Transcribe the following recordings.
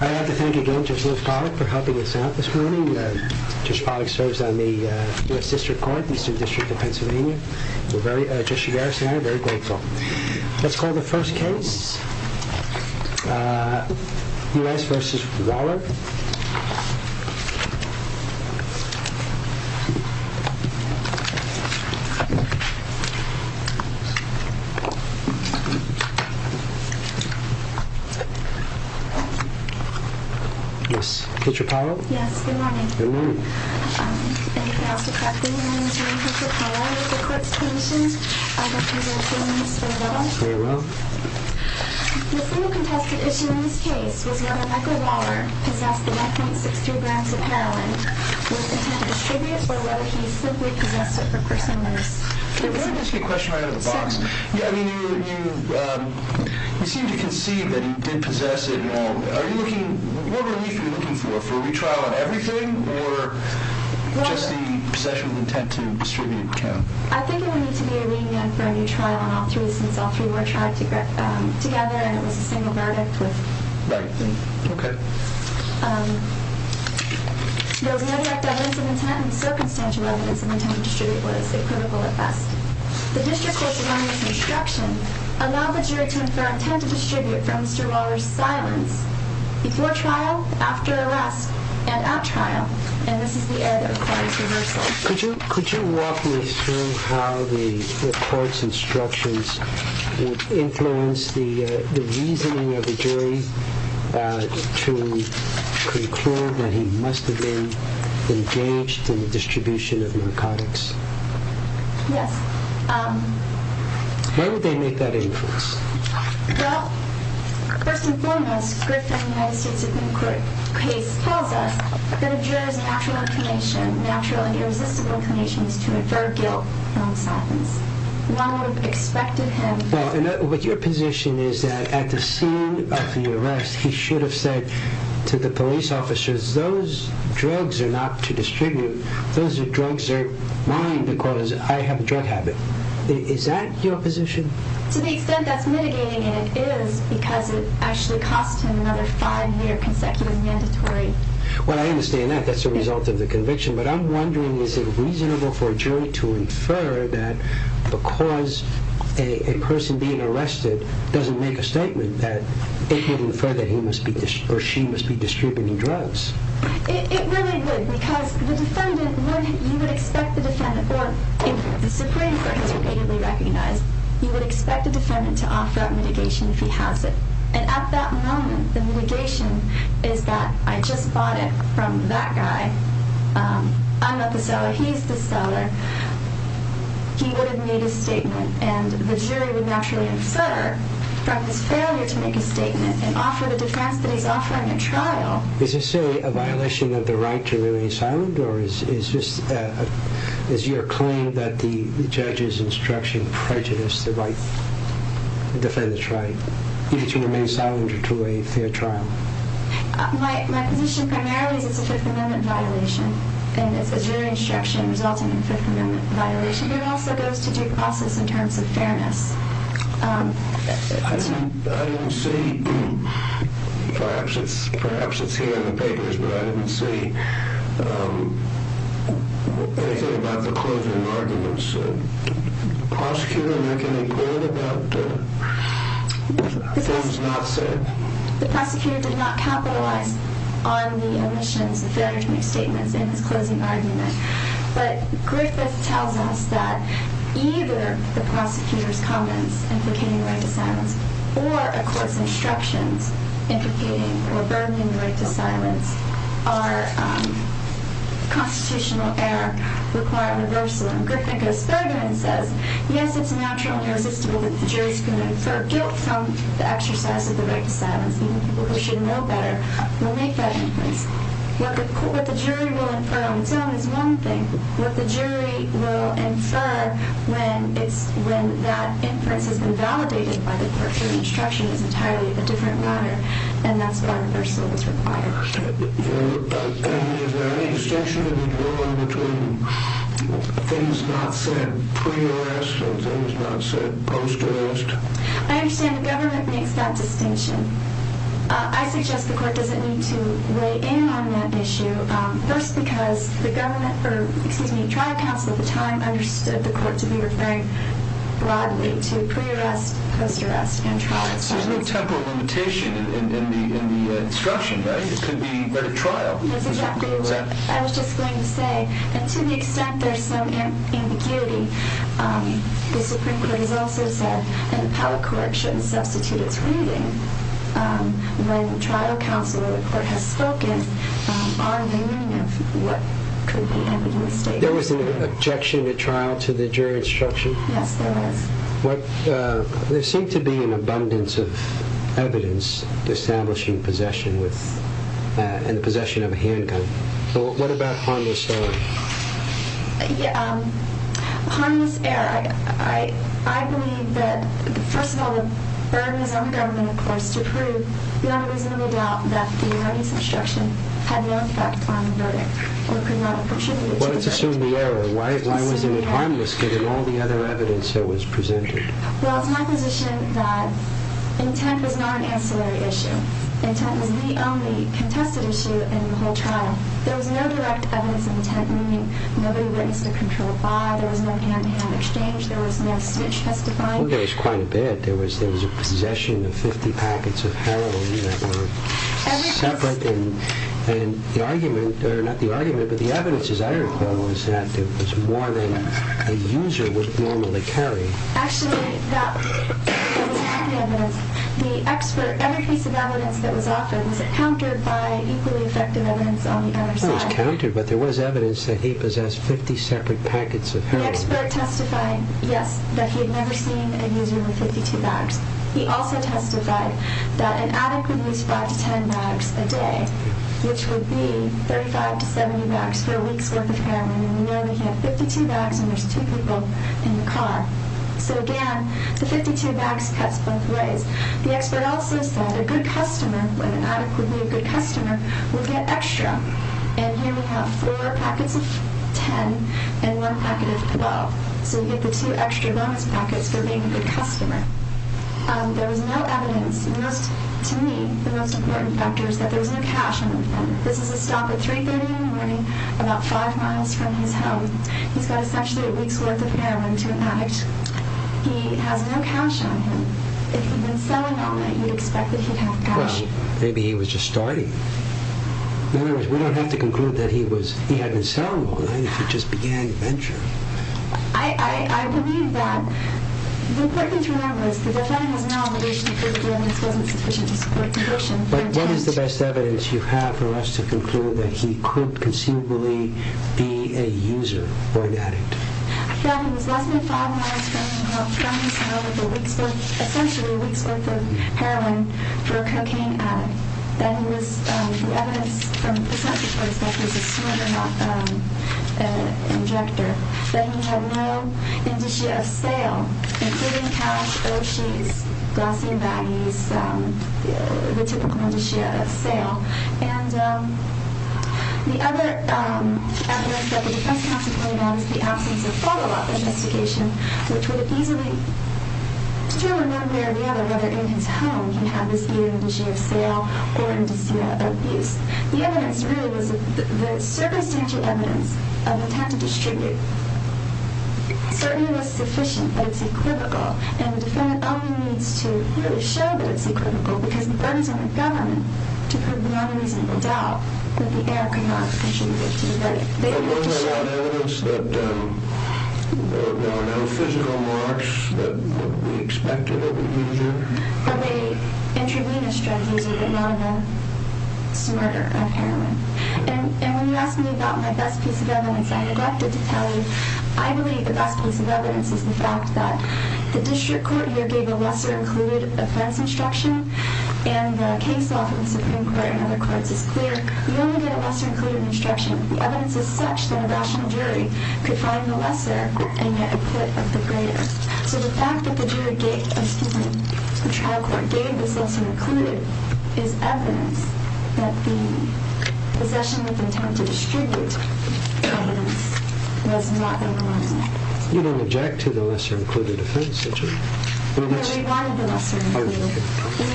I'd like to thank again Judge Liz Bogdick for helping us out this morning. Judge Bogdick serves on the U.S. District Court, Eastern District of Pennsylvania. We're very, Judge Shigeru Sano, very grateful. Let's call the first case. U.S. v. Waller. Yes, Petra Powell? Yes, good morning. Good morning. Anything else to correct me in? My name is Mary Petra Powell. I was the court's clinician. I'd like to go through Mr. Waller. Very well. The single contested issue in this case was whether Michael Waller possessed the 1.63 grams of heroin. Was the intent distributed or whether he simply possessed it for personal use? Let me just get a question right out of the box. You seem to concede that he did possess it. What relief are you looking for? For a retrial on everything or just the possession of intent to distribute? I think it would need to be a re-enactment for a new trial on all three since all three were tried together and it was a single verdict. Right. Okay. There was no direct evidence of intent and circumstantial evidence of intent to distribute was the critical at best. The district court's anonymous instruction allowed the jury to infer intent to distribute from Mr. Waller's silence before trial, after arrest, and at trial, and this is the error that requires reversal. Could you walk me through how the court's instructions would influence the reasoning of the jury to conclude that he must have been engaged in the distribution of narcotics? Yes. Why would they make that inference? Well, first and foremost, Griffin United States Supreme Court case tells us that a juror's natural inclination, natural and irresistible inclination, is to infer guilt from silence. One would have expected him to. Well, but your position is that at the scene of the arrest, he should have said to the police officers, because those drugs are not to distribute. Those drugs are mine because I have a drug habit. Is that your position? To the extent that's mitigating it is because it actually cost him another five-year consecutive mandatory. Well, I understand that. That's the result of the conviction. But I'm wondering is it reasonable for a jury to infer that because a person being arrested doesn't make a statement that it would infer that he or she must be distributing drugs? It really would because you would expect the defendant, or the Supreme Court has repeatedly recognized, you would expect the defendant to offer up mitigation if he has it. And at that moment, the mitigation is that I just bought it from that guy. I'm not the seller. He's the seller. He would have made a statement, and the jury would naturally infer from his failure to make a statement and offer the defense that he's offering in trial. Is this, say, a violation of the right to remain silent? Or is your claim that the judge's instruction prejudiced the defendant's right to remain silent or to waive their trial? My position primarily is it's a Fifth Amendment violation, and it's a jury instruction resulting in a Fifth Amendment violation, but it also goes to due process in terms of fairness. I didn't see. Perhaps it's here in the papers, but I didn't see anything about the closing arguments. The prosecutor did not capitalize on the omissions, the failure to make statements in his closing argument. But Griffith tells us that either the prosecutor's comments implicating the right to silence or a court's instructions implicating or burdening the right to silence are constitutional error, require reversal. And Griffith goes further and says, yes, it's naturally irresistible that the jury's going to infer guilt from the exercise of the right to silence. Even people who should know better will make that inference. What the jury will infer on its own is one thing. What the jury will infer when that inference has been validated by the court's instruction is entirely a different matter, and that's why reversal is required. And is there any distinction to be drawn between things not said pre-arrest and things not said post-arrest? I understand the government makes that distinction. I suggest the court doesn't need to weigh in on that issue, first because the trial counsel at the time understood the court to be referring broadly to pre-arrest, post-arrest, and trial counsel. There's no temporal limitation in the instruction, right? It could be at a trial. I was just going to say that to the extent there's some ambiguity, the Supreme Court has also said that the power of correction substitutes reading when the trial counsel or the court has spoken on the meaning of what could be a mistake. There was an objection at trial to the jury instruction? Yes, there was. There seemed to be an abundance of evidence establishing possession and the possession of a handgun. What about harmless error? Harmless error. I believe that, first of all, the burden is on the government, of course, to prove beyond a reasonable doubt that the jury's instruction had no effect on the verdict or could not have contributed to the verdict. Well, let's assume the error. Why was it harmless given all the other evidence that was presented? Well, it's my position that intent was not an ancillary issue. Intent was the only contested issue in the whole trial. There was no direct evidence of intent, meaning nobody witnessed a controlled fire. There was no hand-to-hand exchange. There was no switch testifying. Well, there was quite a bit. There was a possession of 50 packets of heroin that were separate. And the argument, or not the argument, but the evidence, as I recall, was that it was more than a user would normally carry. Actually, that was not the evidence. The expert, every piece of evidence that was offered was countered by equally effective evidence on the other side. It was countered, but there was evidence that he possessed 50 separate packets of heroin. The expert testified, yes, that he had never seen a user with 52 bags. He also testified that an addict would use 5 to 10 bags a day, which would be 35 to 70 bags for a week's worth of heroin. And we know we have 52 bags when there's two people in the car. So, again, the 52 bags cuts both ways. The expert also said a good customer, when an addict would be a good customer, would get extra. And here we have four packets of 10 and one packet of 12. So you get the two extra bonus packets for being a good customer. There was no evidence. To me, the most important factor is that there was no cash on him. This is a stop at 3.30 in the morning, about 5 miles from his home. He's got essentially a week's worth of heroin to an addict. He has no cash on him. If he'd been selling all night, you'd expect that he'd have cash. Well, maybe he was just starting. In other words, we don't have to conclude that he hadn't been selling all night, if he just began the venture. I believe that. The important thing to remember is that the defendant has no obligation to prove the evidence wasn't sufficient to support conviction. But what is the best evidence you have for us to conclude that he could conceivably be a user or an addict? He was less than 5 miles from his home with essentially a week's worth of heroin for a cocaine addict. The evidence from the perspective of a smuggler, not an abductor, that he had no indicia of sale, including cash, O'Sheys, glossy and baggies, the typical indicia of sale. The other evidence that the defense counsel pointed out is the absence of a photo op investigation, which would have easily determined one way or the other whether in his home one can have this either indicia of sale or indicia of abuse. The evidence really was the circumstantial evidence of intent to distribute certainly was sufficient, but it's equivocal, and the defendant only needs to really show that it's equivocal because it burns on the government to prove the unreasonable doubt that the heir could not have contributed to the verdict. But wasn't that evidence that there were no physical marks that would be expected of a user? Or a intravenous drug user, but none of them smarter than heroin? And when you ask me about my best piece of evidence, I neglected to tell you I believe the best piece of evidence is the fact that the district court here gave a lesser-included offense instruction, and the case law from the Supreme Court and other courts is clear. You only get a lesser-included instruction if the evidence is such that a rational jury could find the lesser and yet acquit of the greater. So the fact that the trial court gave this lesser-included is evidence that the possession with intent to distribute evidence was not overwhelming. You don't object to the lesser-included offense, do you? No, we wanted the lesser-included.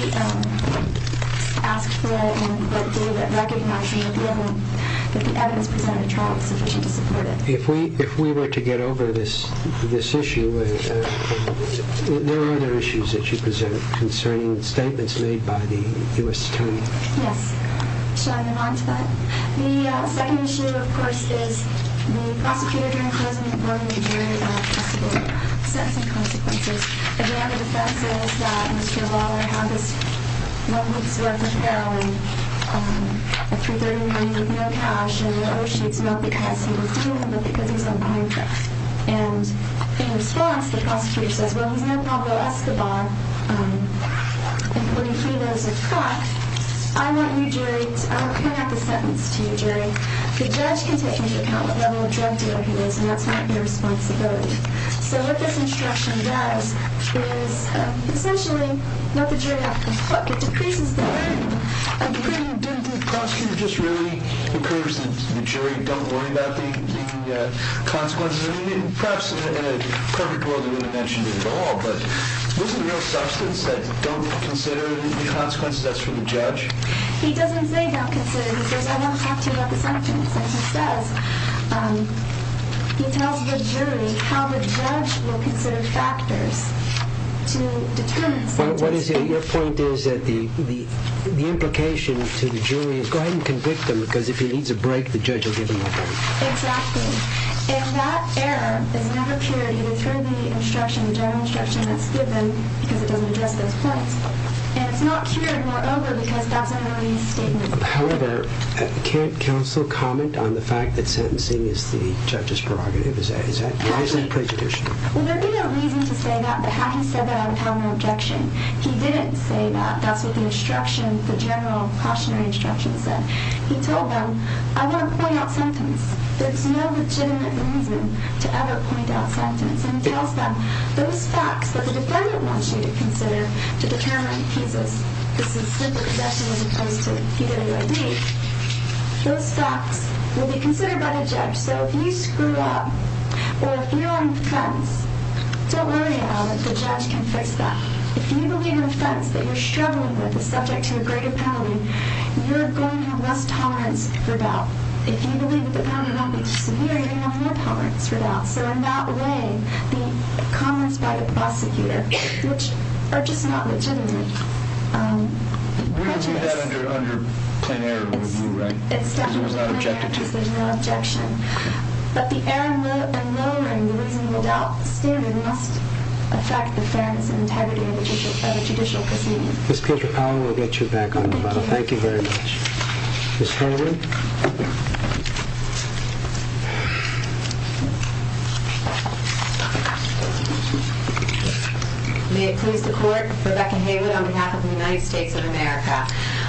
We asked for it and recognized that the evidence presented in trial was sufficient to support it. If we were to get over this issue, there are other issues that you present concerning statements made by the U.S. Attorney. Yes. Should I move on to that? The second issue, of course, is the prosecutor during closing the court may be jury of possible sentencing consequences. Again, the defense is that Mr. Lawler had this one week's worth of heroin at $330 million with no cash, not because he was dealing with it, but because he was on a buying trip. And in response, the prosecutor says, well, he's not Pablo Escobar, including he that is a thug. I want you, jury, I want to come out with a sentence to you, jury. The judge can take into account what level of drug dealer he is, and that's not your responsibility. So what this instruction does is essentially knock the jury off the hook. It decreases the burden. Didn't the prosecutor just really encourage the jury, don't worry about the consequences? I mean, perhaps in a perfect world he wouldn't have mentioned it at all, but isn't there a substance that don't consider the consequences? That's for the judge. He doesn't say don't consider. He says, I want to talk to you about the sentence. And he says, he tells the jury how the judge will consider factors to determine the sentence. Your point is that the implication to the jury is go ahead and convict him, because if he needs a break, the judge will give him a break. Exactly. And that error is never cured. It is through the instruction, the general instruction that's given, because it doesn't address those points. And it's not cured, moreover, because that's an early statement. However, can't counsel comment on the fact that sentencing is the judge's prerogative? Why is that prejudicial? Well, there'd be no reason to say that, but had he said that, I would have had an objection. He didn't say that. That's what the instruction, the general cautionary instruction said. He told them, I want to point out sentence. There's no legitimate reason to ever point out sentence. And he tells them, those facts that the defendant wants you to consider to determine, he says, this is simple possession as opposed to PWID, those facts will be considered by the judge. So if you screw up or if you're on the fence, don't worry about it. The judge can fix that. If you believe an offense that you're struggling with is subject to a greater penalty, you're going to have less tolerance for doubt. If you believe that the penalty might be too severe, you're going to have more tolerance for doubt. So in that way, the comments by the prosecutor, which are just not legitimate, prejudice. We can do that under plain error, right? There's no objection. But the error and lowering the reasonable doubt standard must affect the fairness and integrity of a judicial proceeding. Ms. Peter-Powell, we'll get you back on the model. Thank you very much. Ms. Harrington. May it please the Court, Rebecca Haywood on behalf of the United States of America.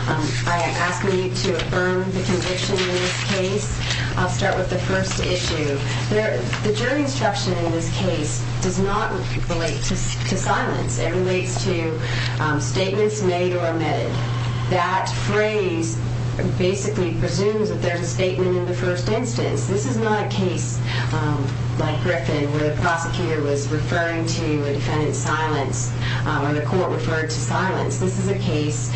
I am asking you to affirm the conviction in this case. I'll start with the first issue. The jury instruction in this case does not relate to silence. It relates to statements made or omitted. That phrase basically presumes that there's a statement in the first instance. This is not a case like Griffin where the prosecutor was referring to a defendant's silence or the court referred to silence. This is a case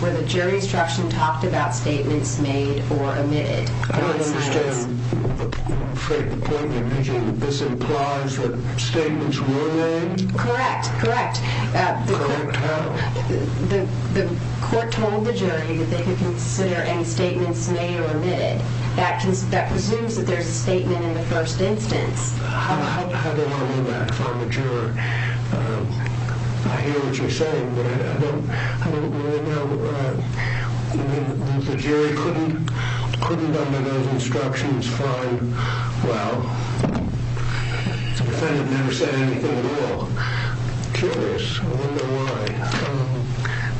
where the jury instruction talked about statements made or omitted. I understand the point you're making. This implies that statements were made? Correct, correct. Correct how? The court told the jury that they could consider any statements made or omitted. That presumes that there's a statement in the first instance. How do I know that if I'm a juror? I hear what you're saying, but I don't really know. The jury couldn't under those instructions find, well, the defendant never said anything at all. Curious, I wonder why.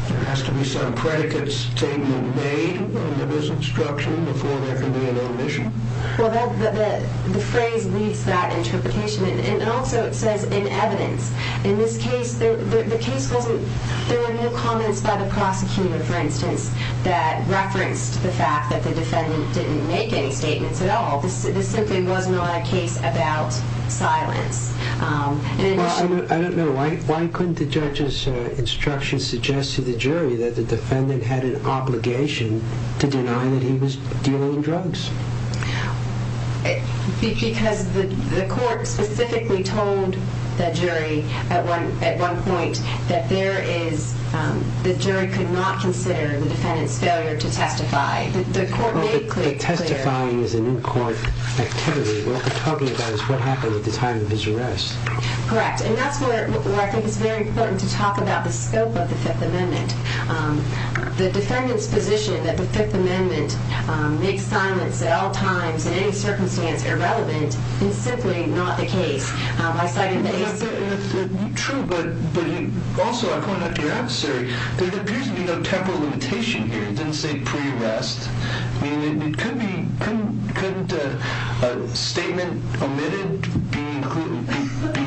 There has to be some predicates taken and made under this instruction before there can be an omission. The phrase needs that interpretation. Also, it says in evidence. In this case, there were no comments by the prosecutor, for instance, that referenced the fact that the defendant didn't make any statements at all. This simply wasn't a case about silence. I don't know. Why couldn't the judge's instruction suggest to the jury that the defendant had an obligation to deny that he was dealing drugs? Because the court specifically told the jury at one point that the jury could not consider the defendant's failure to testify. The court made it clear. But testifying is a new court activity. What we're talking about is what happened at the time of his arrest. Correct, and that's where I think it's very important to talk about the scope of the Fifth Amendment. The defendant's position that the Fifth Amendment makes silence at all times in any circumstance irrelevant is simply not the case. True, but also, according to your adversary, there appears to be no temporal limitation here. It didn't say pre-arrest. I mean, couldn't a statement omitted be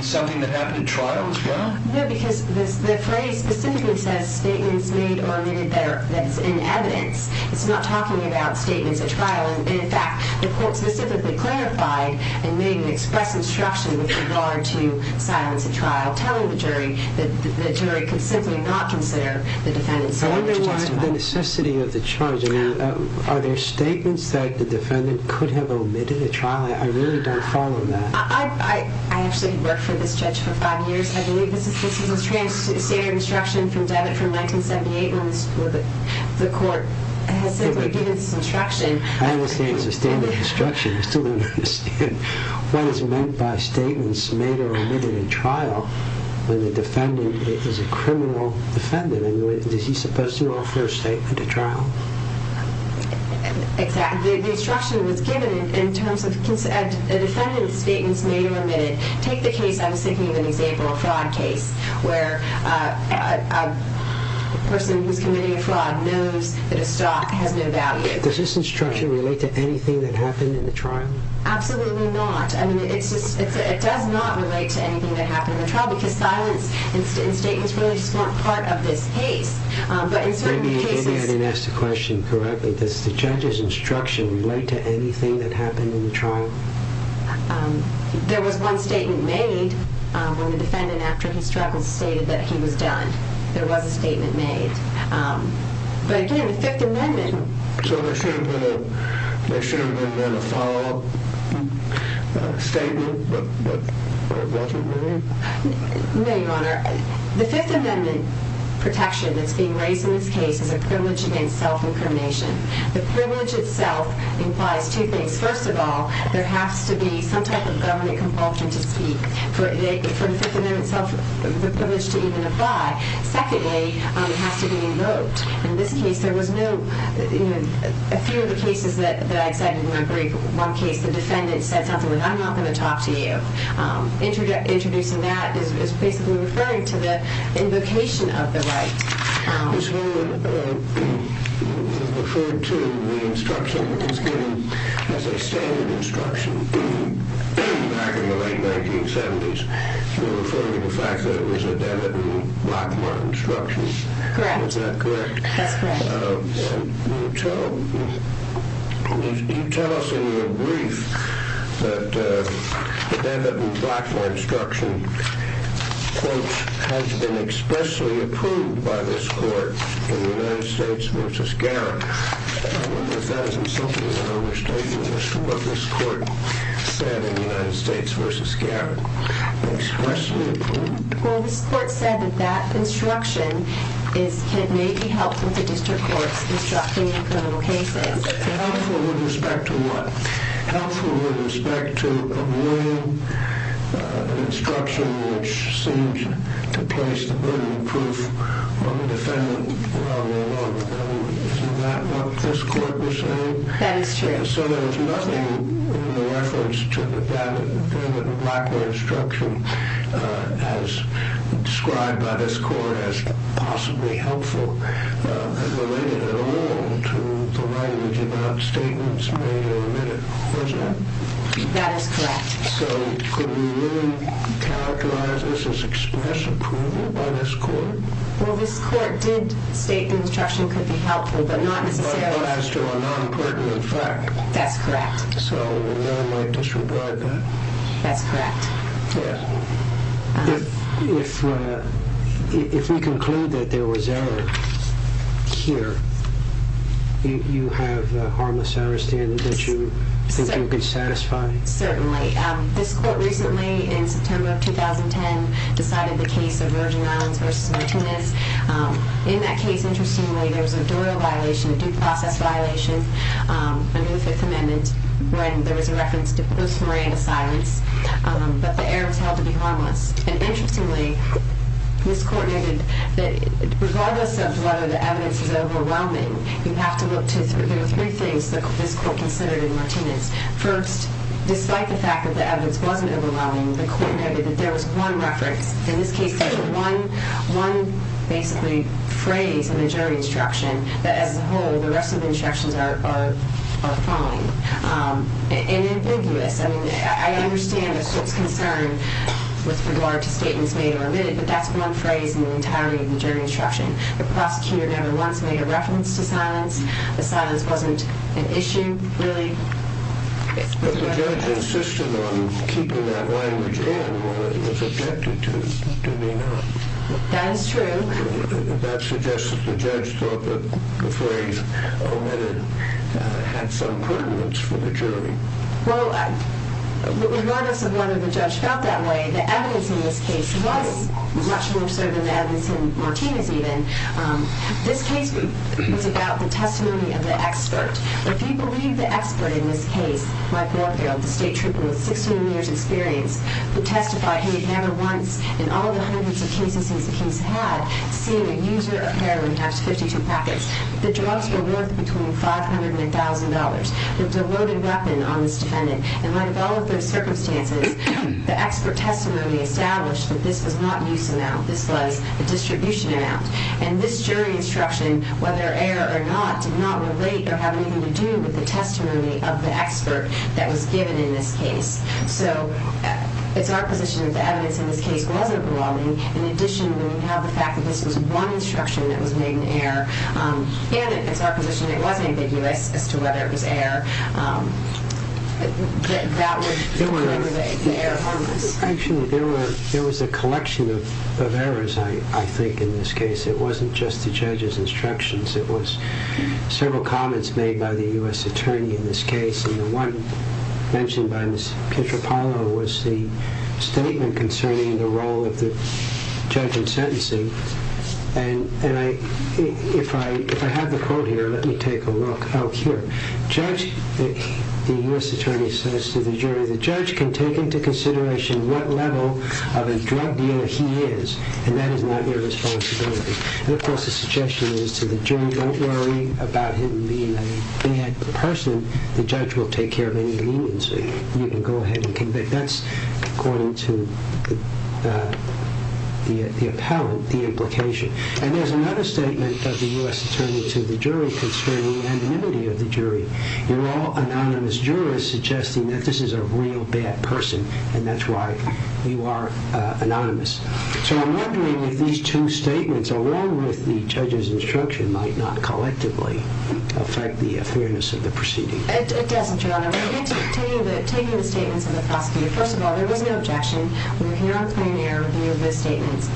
something that happened at trial as well? No, because the phrase specifically says statements made or omitted that's in evidence. It's not talking about statements at trial. In fact, the court specifically clarified and made an express instruction with regard to silence at trial telling the jury that the jury could simply not consider the defendant's failure to testify. I wonder why the necessity of the charge. I mean, are there statements that the defendant could have omitted at trial? I really don't follow that. I actually worked for this judge for five years. I believe this is a standard instruction from 1978 when the court has simply given this instruction. I understand it's a standard instruction. I still don't understand what is meant by statements made or omitted at trial when the defendant is a criminal defendant. I mean, is he supposed to offer a statement at trial? Exactly. The instruction was given in terms of a defendant's statements made or omitted. Take the case I was thinking of in the example of a fraud case where a person who's committing a fraud knows that a stock has no value. Does this instruction relate to anything that happened in the trial? Absolutely not. I mean, it does not relate to anything that happened in the trial because silence and statements really just weren't part of this case. Maybe I didn't ask the question correctly. Does the judge's instruction relate to anything that happened in the trial? There was one statement made when the defendant, after he struggled, stated that he was done. There was a statement made. But again, the Fifth Amendment. So there should have been a follow-up statement, but it wasn't really? No, Your Honor. The Fifth Amendment protection that's being raised in this case is a privilege against self-incrimination. The privilege itself implies two things. First of all, there has to be some type of government compulsion to speak for the Fifth Amendment itself, the privilege to even apply. Secondly, it has to be invoked. In this case, there was no – a few of the cases that I cited in my brief, one case the defendant said something like, I'm not going to talk to you. Introducing that is basically referring to the invocation of the right. This woman referred to the instruction that was given as a standard instruction back in the late 1970s. You're referring to the fact that it was a Devitt and Blackmore instruction. Correct. Is that correct? That's correct. And you tell us in your brief that the Devitt and Blackmore instruction, quote, has been expressly approved by this court in the United States v. Garrett. I wonder if that isn't something that overstates what this court said in the United States v. Garrett. Expressly approved? Well, this court said that that instruction may be helpful to district courts instructing in criminal cases. Helpful with respect to what? Which seems to place the burden of proof on the defendant. Isn't that what this court was saying? That is true. So there was nothing in the reference to the Devitt and Blackmore instruction as described by this court as possibly helpful and related at all to the language about statements made in the minute, was there? That is correct. So could we really characterize this as express approval by this court? Well, this court did state the instruction could be helpful, but not necessarily. But not as to a non-pertinent fact. That's correct. So we really might disregard that. That's correct. Yeah. If we conclude that there was error here, you have a harmless error standard that you think you could satisfy? Certainly. This court recently, in September of 2010, decided the case of Virgin Islands v. Martinez. In that case, interestingly, there was a Doyle violation, a due process violation under the Fifth Amendment when there was a reference to post-Miranda silence. But the error was held to be harmless. And interestingly, this court noted that regardless of whether the evidence is overwhelming, you have to look to three things that this court considered in Martinez. First, despite the fact that the evidence wasn't overwhelming, the court noted that there was one reference. In this case, there's one basically phrase in the jury instruction that as a whole the rest of the instructions are following. And ambiguous. I mean, I understand the court's concern with regard to statements made or omitted, but that's one phrase in the entirety of the jury instruction. The prosecutor never once made a reference to silence. The silence wasn't an issue, really. But the judge insisted on keeping that language in when it was objected to. That is true. That suggests that the judge thought that the phrase omitted had some pertinence for the jury. Well, regardless of whether the judge felt that way, the evidence in this case was much more so than the evidence in Martinez, even. This case was about the testimony of the expert. If you believe the expert in this case, Mike Warfield, the state trooper with six million years' experience, would testify he had never once in all the hundreds of cases he's had seen a user of heroin have 52 packets. The drugs were worth between $500 and $1,000. There was a loaded weapon on this defendant. And like all of those circumstances, the expert testimony established that this was not an use amount. This was a distribution amount. And this jury instruction, whether error or not, did not relate or have anything to do with the testimony of the expert that was given in this case. So it's our position that the evidence in this case wasn't wrong. In addition, when you have the fact that this was one instruction that was made in error, and it's our position that it wasn't ambiguous as to whether it was error, that would prove that the error harmless. Actually, there was a collection of errors, I think, in this case. It wasn't just the judge's instructions. It was several comments made by the U.S. attorney in this case. And the one mentioned by Ms. Pietropilo was the statement concerning the role of the judge in sentencing. And if I have the quote here, let me take a look. The U.S. attorney says to the jury, the judge can take into consideration what level of a drug dealer he is, and that is not your responsibility. And, of course, the suggestion is to the jury, don't worry about him being a bad person. The judge will take care of any leniency. You can go ahead and convict. That's according to the appellant, the implication. And there's another statement of the U.S. attorney to the jury concerning the anonymity of the jury. You're all anonymous jurists suggesting that this is a real bad person, and that's why you are anonymous. So I'm wondering if these two statements, along with the judge's instruction, might not collectively affect the fairness of the proceeding. It doesn't, Your Honor. Taking the statements of the prosecutor, first of all, there was no objection. We're here on a clear and air review of those statements.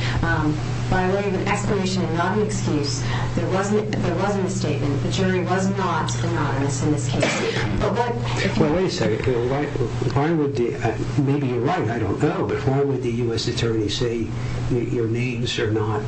By way of an explanation and not an excuse, there was a misstatement. The jury was not anonymous in this case. Well, wait a second. Maybe you're right. I don't know. But why would the U.S. attorney say your names are not?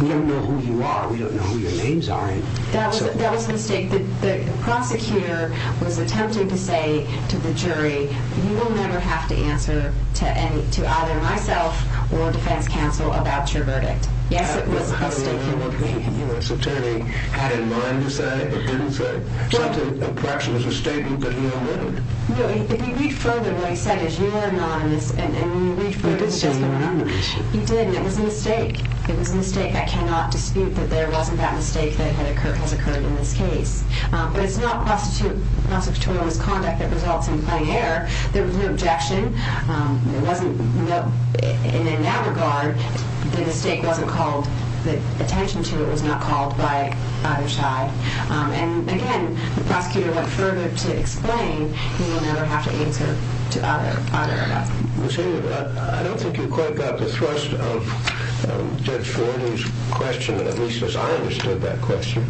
We don't know who you are. We don't know who your names are. That was a mistake. The prosecutor was attempting to say to the jury, you will never have to answer to either myself or defense counsel about your verdict. Yes, it was a mistake. How do you know what the U.S. attorney had in mind to say or didn't say? Perhaps it was a statement, but he didn't. If you read further, what he said is you're anonymous. He did say you're anonymous. He did, and it was a mistake. It was a mistake. I cannot dispute that there wasn't that mistake that has occurred in this case. But it's not prosecutorial misconduct that results in plain error. There was no objection. In that regard, the mistake wasn't called. The attention to it was not called by either side. And, again, the prosecutor went further to explain you will never have to answer to either of us. I don't think you've quite got the thrust of Judge Fordy's question, at least as I understood that question.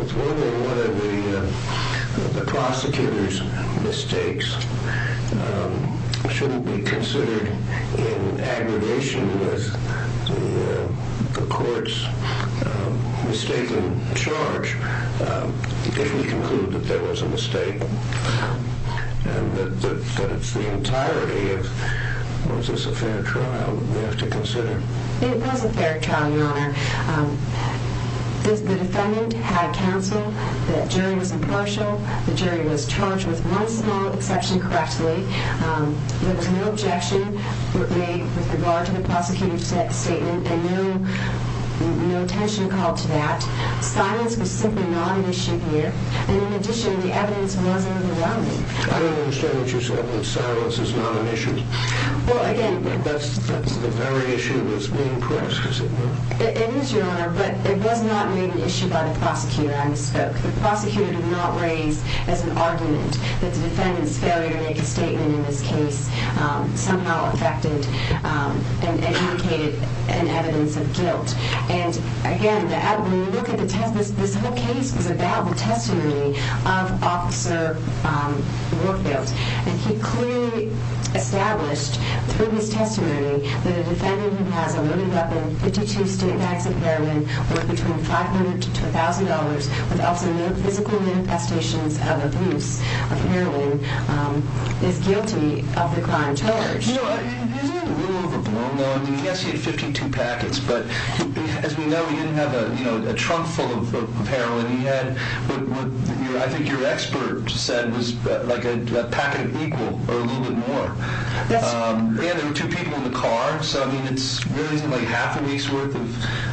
If one of the prosecutor's mistakes shouldn't be considered in aggregation with the court's mistaken charge, if we conclude that there was a mistake and that it's the entirety of, was this a fair trial that we have to consider? It was a fair trial, Your Honor. The defendant had counsel. The jury was impartial. The jury was charged with one small exception correctly. There was no objection made with regard to the prosecutor's statement and no attention called to that. Silence was simply not an issue here. And, in addition, the evidence was overwhelming. I don't understand what you said, that silence is not an issue. Well, again... That's the very issue that's being pressed, is it not? It is, Your Honor, but it was not made an issue by the prosecutor. I misspoke. The prosecutor did not raise as an argument that the defendant's failure to make a statement in this case somehow affected and indicated an evidence of guilt. And, again, when you look at the testimony, this whole case was about the testimony of Officer Warfield. And he clearly established, through his testimony, that a defendant who has a loaded weapon, 52 stick bags of heroin, worth between $500 to $1,000, with ultimate physical manifestations of abuse of heroin, is guilty of the crime charged. He's a little overblown, though. I mean, yes, he had 52 packets. But, as we know, he didn't have a trunk full of heroin. He had what I think your expert said was like a packet equal, or a little bit more. And there were two people in the car. So, I mean, it's really like half a week's worth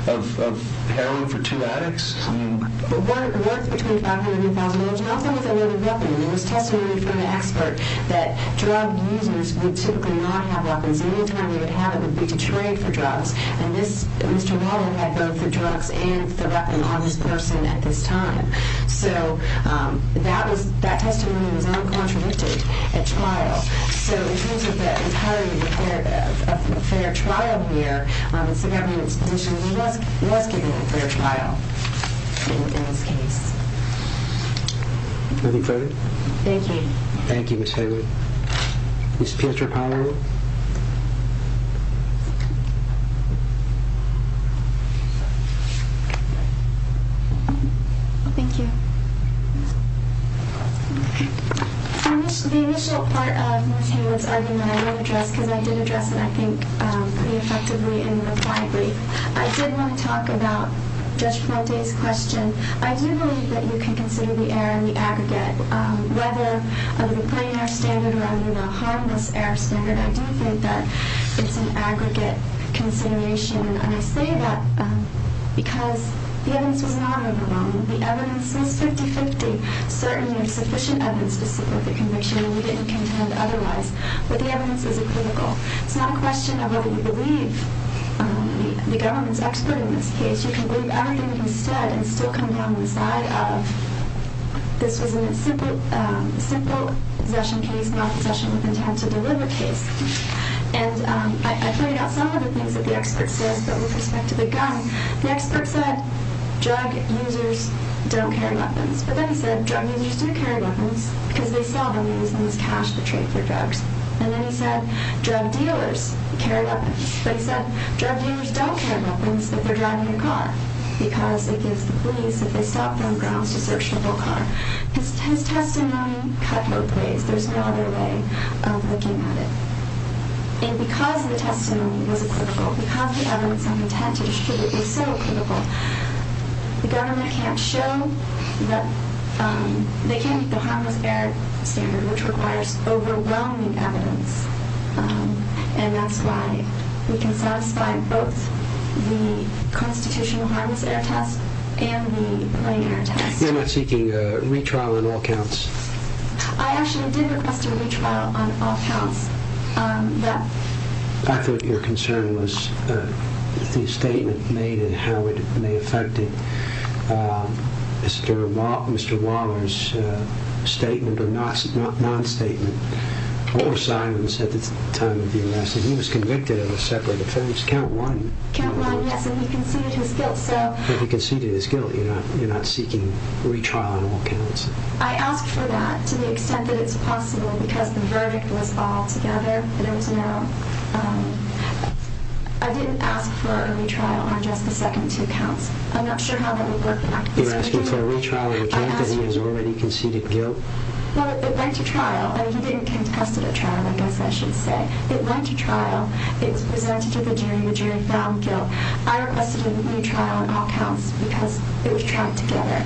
of heroin for two addicts? Worth between $500 and $1,000. And also with a loaded weapon. It was testified from the expert that drug users would typically not have weapons. The only time they would have it would be to trade for drugs. And Mr. Warren had both the drugs and the weapon on this person at this time. So that testimony was not contradicted at trial. So, in terms of the entirety of a fair trial here, Mr. Gavin's position was he was given a fair trial in this case. Anything further? Thank you. Thank you, Ms. Haley. Ms. Pietropower? Thank you. The initial part of Ms. Haley's argument I won't address because I did address it, I think, pretty effectively in the reply brief. I did want to talk about Judge Ponte's question. I do believe that you can consider the error in the aggregate. Whether under the plain error standard or under the harmless error standard, I do think that it's an aggregate consideration. And I say that because the evidence was not overwhelming. The evidence was 50-50. Certainly, there's sufficient evidence to support the conviction, and we didn't contend otherwise. But the evidence is a critical. It's not a question of whether you believe the government's expert in this case. You can believe everything he said and still come down the side of this was a simple possession case, not a possession with intent to deliver case. And I pointed out some of the things that the expert says, but with respect to the gun, the expert said drug users don't carry weapons. But then he said drug users do carry weapons because they sell them. They use them as cash for trade for drugs. And then he said drug dealers carry weapons. But he said drug dealers don't carry weapons if they're driving a car because it gives the police, if they stop them, grounds to search the whole car. His testimony cut both ways. There's no other way of looking at it. And because the testimony was a critical, because the evidence and intent to distribute was so critical, the government can't show that they can't get the harmless error standard, which requires overwhelming evidence. And that's why we can satisfy both the constitutional harmless error test and the plain error test. You're not seeking a retrial on all counts. I actually did request a retrial on all counts. I thought your concern was the statement made and how it may affect it. Mr. Waller's statement, or non-statement, what was Simon's at the time of your message? He was convicted of a separate offense, count one. Count one, yes, and he conceded his guilt. He conceded his guilt. You're not seeking a retrial on all counts. I asked for that to the extent that it's possible because the verdict was altogether that it was an error. I didn't ask for a retrial on just the second two counts. I'm not sure how that would work. You're asking for a retrial on the count that he has already conceded guilt? No, it went to trial. He didn't contest it at trial, I guess I should say. It went to trial. It was presented to the jury. The jury found guilt. I requested a retrial on all counts because it was tried together.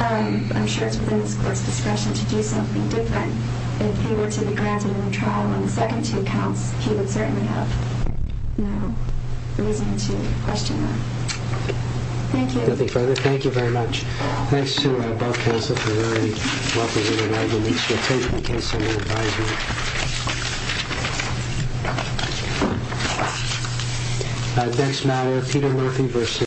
I'm sure it's within the Court's discretion to do something different. If he were to be granted a retrial on the second two counts, he would certainly have no reason to question that. Thank you. Nothing further. Thank you very much. Thanks to both counsels. You're very welcome to remain. We shall take the case under advisement. Next matter, Peter Murphy v.